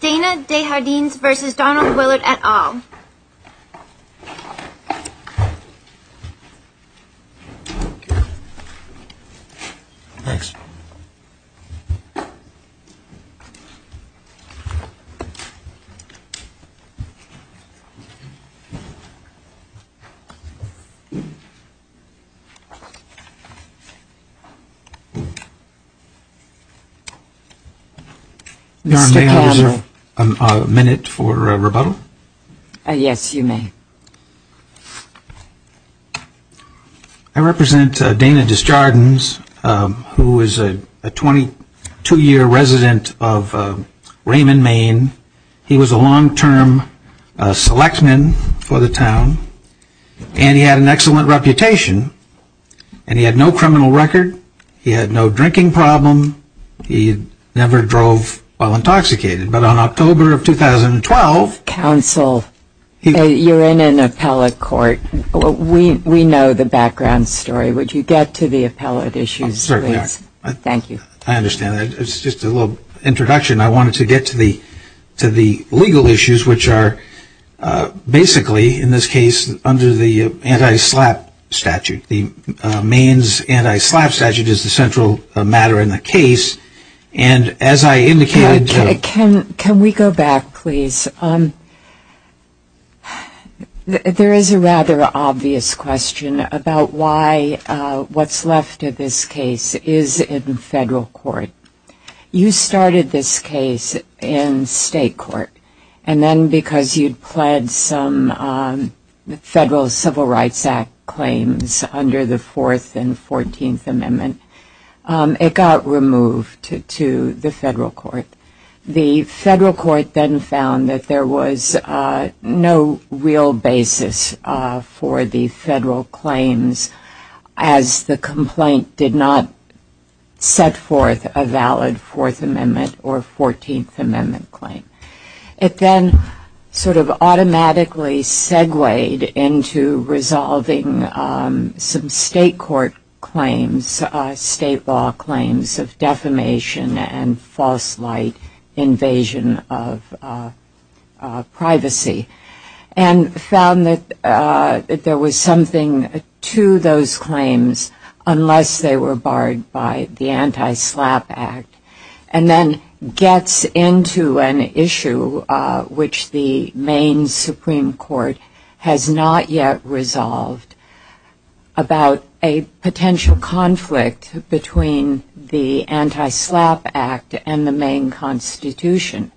Dana DeJardins v. Donald Willard et al. Mr. President, may I just have a minute for a rebuttal? Yes, you may. I represent Dana DeJardins, who is a 22-year resident of Raymond, Maine. He was a long-term selectman for the town, and he had an excellent reputation. And he had no criminal record, he had no drinking problem, he never drove while intoxicated. But on October of 2012... Counsel, you're in an appellate court. We know the background story. Would you get to the appellate issues, please? I certainly would. Thank you. I understand. It's just a little introduction. I wanted to get to the legal issues, which are basically, in this case, under the anti-SLAPP statute. Maine's anti-SLAPP statute is the central matter in the case. And as I indicated... Can we go back, please? There is a rather obvious question about why what's left of this case is in federal court. You started this case in state court. And then because you'd pled some Federal Civil Rights Act claims under the Fourth and Fourteenth Amendment, it got removed to the federal court. The federal court then found that there was no real basis for the federal claims, as the complaint did not set forth a valid Fourth Amendment or Fourteenth Amendment claim. It then sort of automatically segued into resolving some state court claims, state law claims, of defamation and false light invasion of privacy, and found that there was something to those claims unless they were barred by the anti-SLAPP Act, and then gets into an issue which the Maine Supreme Court has not yet resolved about a potential conflict between the anti-SLAPP Act and the Maine Constitution.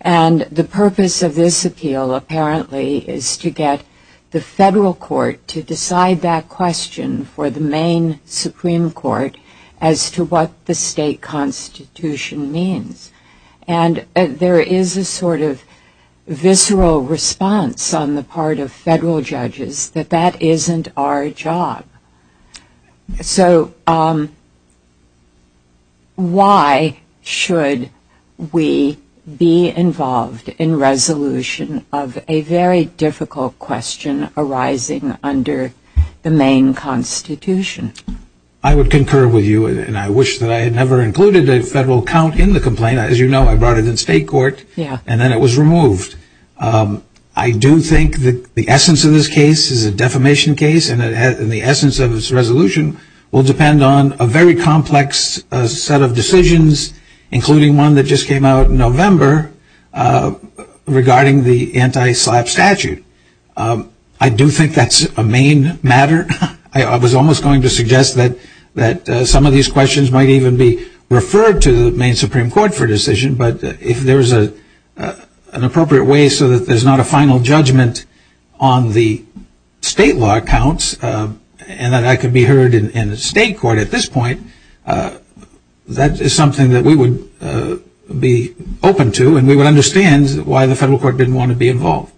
And the purpose of this appeal, apparently, is to get the federal court to decide that question for the Maine Supreme Court as to what the state constitution means. And there is a sort of visceral response on the part of federal judges that that isn't our job. So why should we be involved in resolution of a very difficult question arising under the Maine Constitution? I would concur with you, and I wish that I had never included a federal count in the complaint. As you know, I brought it in state court, and then it was removed. I do think that the essence of this case is a defamation case, and the essence of its resolution will depend on a very complex set of decisions, including one that just came out in November regarding the anti-SLAPP statute. I do think that's a Maine matter. I was almost going to suggest that some of these questions might even be referred to the Maine Supreme Court for decision, but if there's an appropriate way so that there's not a final judgment on the state law accounts and that that could be heard in state court at this point, that is something that we would be open to, and we would understand why the federal court didn't want to be involved.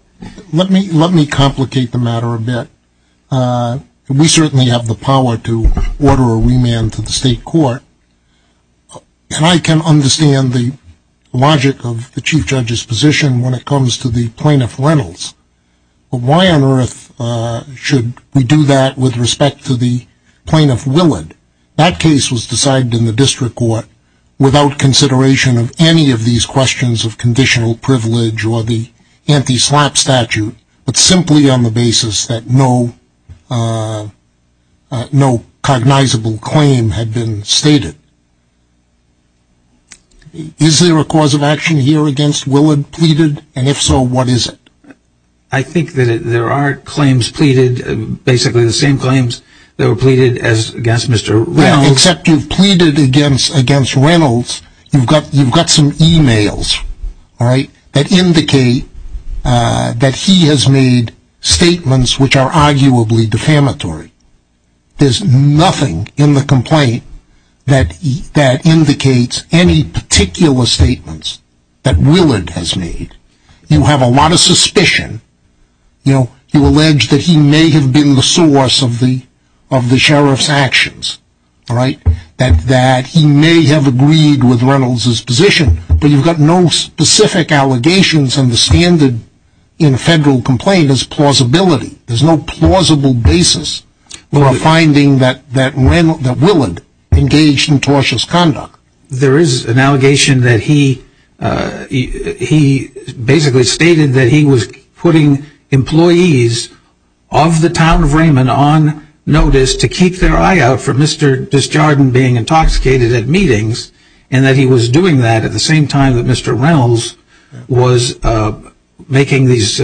Let me complicate the matter a bit. We certainly have the power to order a remand to the state court, and I can understand the logic of the chief judge's position when it comes to the plaintiff Reynolds, but why on earth should we do that with respect to the plaintiff Willard? That case was decided in the district court without consideration of any of these questions of conditional privilege or the anti-SLAPP statute, but simply on the basis that no cognizable claim had been stated. Is there a cause of action here against Willard pleaded, and if so, what is it? I think that there are claims pleaded, basically the same claims that were pleaded against Mr. Reynolds. Except you've pleaded against Reynolds, you've got some emails that indicate that he has made statements which are arguably defamatory. There's nothing in the complaint that indicates any particular statements that Willard has made. You have a lot of suspicion. You know, you allege that he may have been the source of the sheriff's actions, right? That he may have agreed with Reynolds' position, but you've got no specific allegations and the standard in a federal complaint is plausibility. There's no plausible basis for a finding that Willard engaged in tortious conduct. There is an allegation that he basically stated that he was putting employees of the town of Raymond on notice to keep their eye out for Mr. Disjardin being intoxicated at meetings, and that he was doing that at the same time that Mr. Reynolds was making these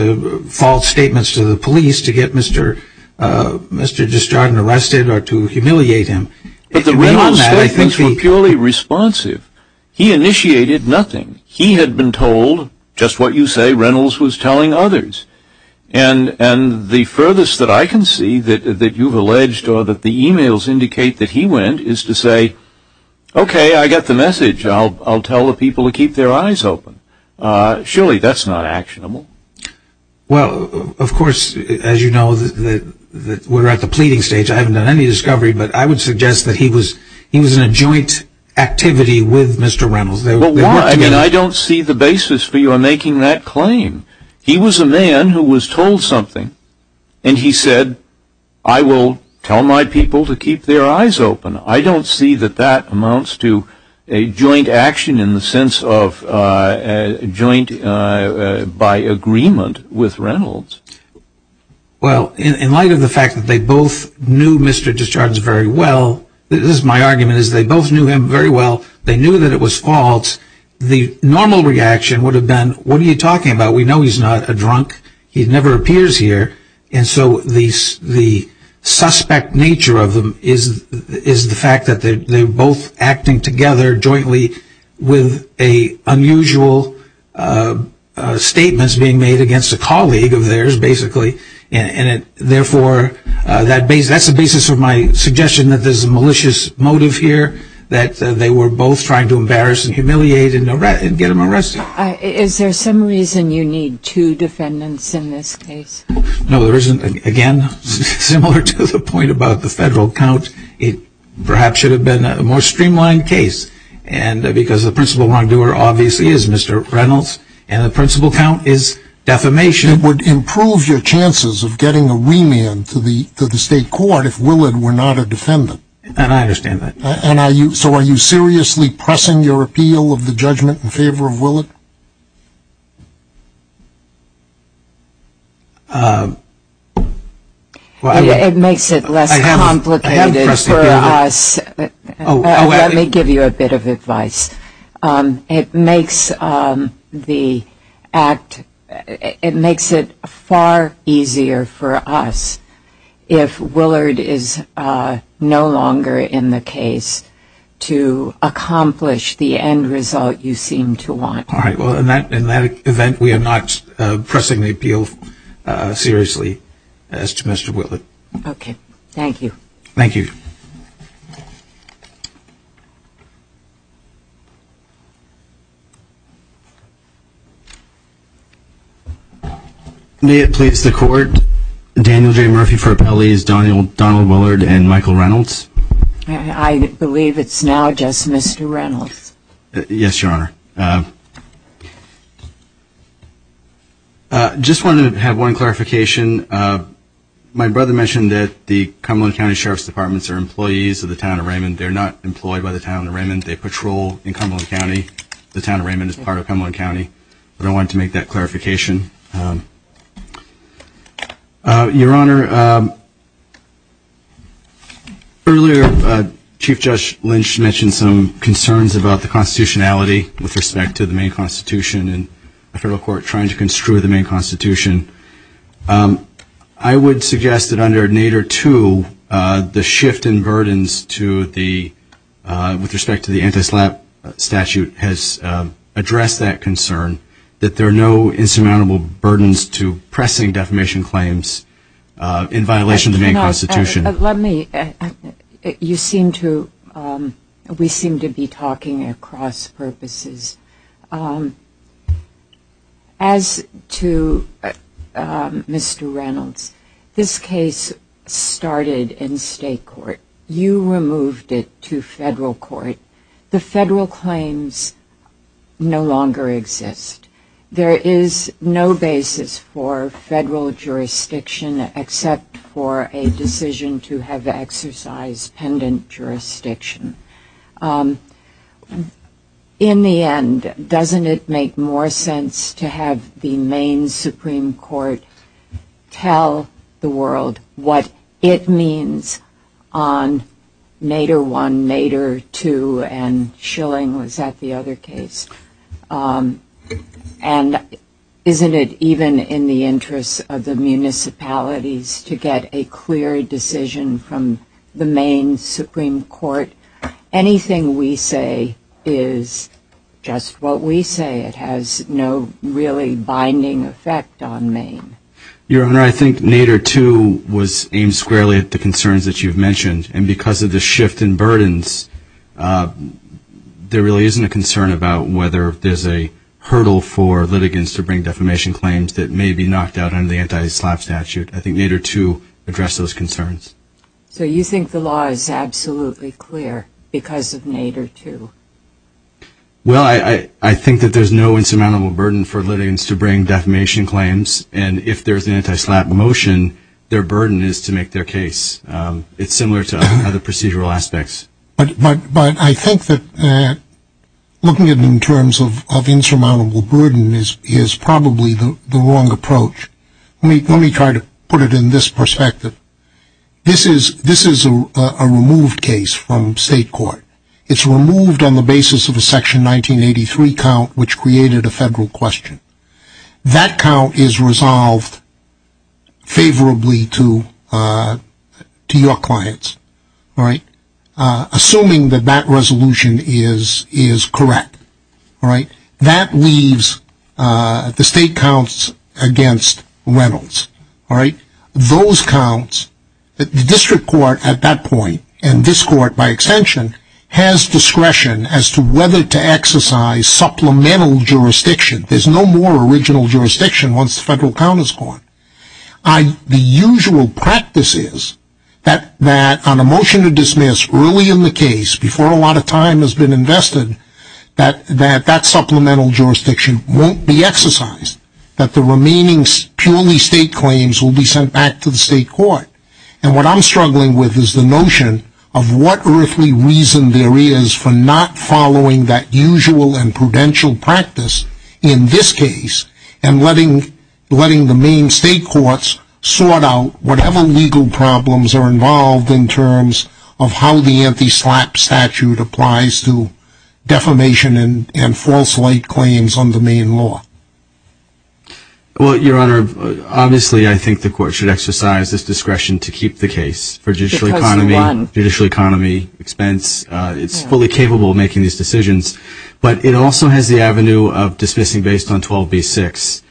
false statements to the police to get Mr. Disjardin arrested or to humiliate him. But the Reynolds statements were purely responsive. He initiated nothing. He had been told just what you say Reynolds was telling others. And the furthest that I can see that you've alleged or that the emails indicate that he went is to say, okay, I get the message. I'll tell the people to keep their eyes open. Surely that's not actionable. Well, of course, as you know, we're at the pleading stage. I haven't done any discovery, but I would suggest that he was in a joint activity with Mr. Reynolds. I don't see the basis for you on making that claim. He was a man who was told something, and he said, I will tell my people to keep their eyes open. I don't see that that amounts to a joint action in the sense of joint by agreement with Reynolds. Well, in light of the fact that they both knew Mr. Disjardin very well, this is my argument, is they both knew him very well. They knew that it was false. The normal reaction would have been, what are you talking about? We know he's not a drunk. He never appears here. And so the suspect nature of them is the fact that they're both acting together jointly with unusual statements being made against a colleague of theirs, basically. And therefore, that's the basis of my suggestion that there's a malicious motive here, that they were both trying to embarrass and humiliate and get him arrested. Is there some reason you need two defendants in this case? No, there isn't. Again, similar to the point about the federal count, it perhaps should have been a more streamlined case. Because the principal wrongdoer obviously is Mr. Reynolds, and the principal count is defamation. It would improve your chances of getting a remand to the state court if Willard were not a defendant. And I understand that. So are you seriously pressing your appeal of the judgment in favor of Willard? It makes it less complicated for us. Let me give you a bit of advice. It makes it far easier for us if Willard is no longer in the case to accomplish the end result you seem to want. All right. Well, in that event, we are not pressing the appeal seriously as to Mr. Willard. Okay. Thank you. Thank you. May it please the Court, Daniel J. Murphy for Appellees, Donald Willard and Michael Reynolds. I believe it's now just Mr. Reynolds. Yes, Your Honor. Just wanted to have one clarification. My brother mentioned that the Cumberland County Sheriff's Departments are employees of the Town of Raymond. They're not employed by the Town of Raymond. They patrol in Cumberland County. The Town of Raymond is part of Cumberland County. I wanted to make that clarification. Your Honor, earlier Chief Judge Lynch mentioned some concerns about the constitutionality with respect to the main constitution and the federal court trying to construe the main constitution. I would suggest that under Nader 2, the shift in burdens with respect to the anti-SLAPP statute has addressed that concern, that there are no insurmountable burdens to pressing defamation claims in violation of the main constitution. Let me, you seem to, we seem to be talking across purposes. As to Mr. Reynolds, this case started in state court. You removed it to federal court. The federal claims no longer exist. There is no basis for federal jurisdiction except for a decision to have exercise pendant jurisdiction. In the end, doesn't it make more sense to have the main Supreme Court tell the world what it means on Nader 1, Nader 2, and Schilling, was that the other case? And isn't it even in the interest of the municipalities to get a clear decision from the main Supreme Court? Anything we say is just what we say. It has no really binding effect on Maine. Your Honor, I think Nader 2 was aimed squarely at the concerns that you've mentioned. And because of the shift in burdens, there really isn't a concern about whether there's a hurdle for litigants to bring defamation claims that may be knocked out under the anti-SLAPP statute. I think Nader 2 addressed those concerns. So you think the law is absolutely clear because of Nader 2? Well, I think that there's no insurmountable burden for litigants to bring defamation claims. And if there's an anti-SLAPP motion, their burden is to make their case. It's similar to other procedural aspects. But I think that looking at it in terms of insurmountable burden is probably the wrong approach. Let me try to put it in this perspective. This is a removed case from state court. It's removed on the basis of a Section 1983 count, which created a federal question. That count is resolved favorably to your clients, assuming that that resolution is correct. That leaves the state counts against Reynolds. Those counts, the district court at that point, and this court by extension, has discretion as to whether to exercise supplemental jurisdiction. There's no more original jurisdiction once the federal count is gone. The usual practice is that on a motion to dismiss early in the case, before a lot of time has been invested, that that supplemental jurisdiction won't be exercised. That the remaining purely state claims will be sent back to the state court. And what I'm struggling with is the notion of what earthly reason there is for not following that usual and prudential practice in this case, and letting the main state courts sort out whatever legal problems are involved in terms of how the anti-SLAPP statute applies to defamation and false light claims under main law. Well, Your Honor, obviously I think the court should exercise this discretion to keep the case. For judicial economy, expense, it's fully capable of making these decisions. But it also has the avenue of dismissing based on 12b-6.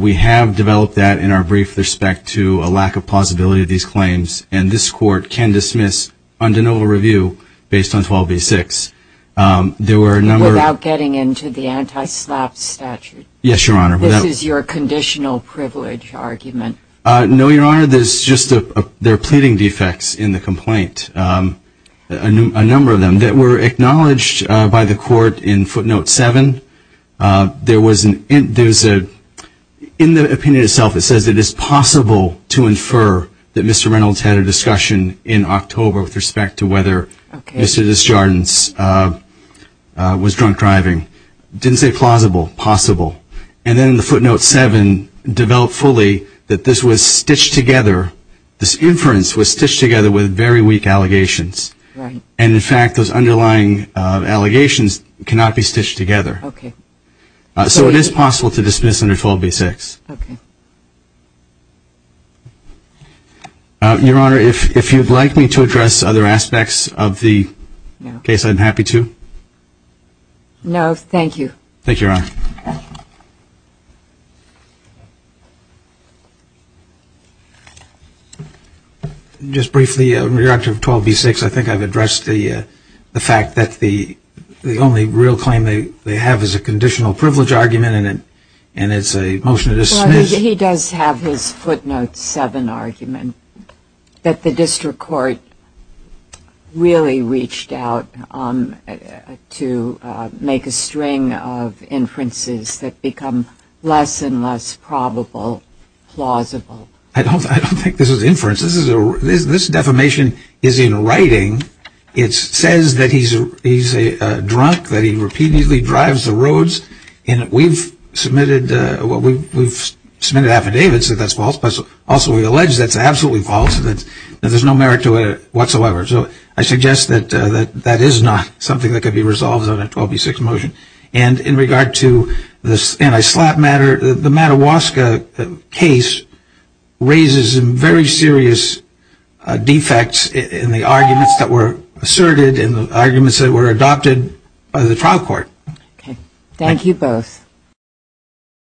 We have developed that in our brief respect to a lack of plausibility of these claims. And this court can dismiss under no review based on 12b-6. Without getting into the anti-SLAPP statute. Yes, Your Honor. This is your conditional privilege argument. No, Your Honor. There are pleading defects in the complaint, a number of them, that were acknowledged by the court in footnote 7. There was a, in the opinion itself, it says it is possible to infer that Mr. Reynolds had a discussion in October with respect to whether Mr. Desjardins was drunk driving. Didn't say plausible, possible. And then in the footnote 7, developed fully that this was stitched together, this inference was stitched together with very weak allegations. Right. And in fact, those underlying allegations cannot be stitched together. Okay. So it is possible to dismiss under 12b-6. Okay. Your Honor, if you'd like me to address other aspects of the case, I'm happy to. No, thank you. Thank you, Your Honor. Just briefly, in regard to 12b-6, I think I've addressed the fact that the only real claim they have is a conditional privilege argument, and it's a motion to dismiss. Well, he does have his footnote 7 argument, that the district court really reached out to make a string of inferences that become less and less probable, plausible. I don't think this is inference. This defamation is in writing. It says that he's drunk, that he repeatedly drives the roads, and we've submitted affidavits that that's false. Also, we allege that's absolutely false and that there's no merit to it whatsoever. So I suggest that that is not something that could be resolved on a 12b-6 motion. And in regard to this anti-SLAPP matter, the Mattawaska case raises very serious defects in the arguments that were asserted and the arguments that were adopted by the trial court. Okay. Thank you both.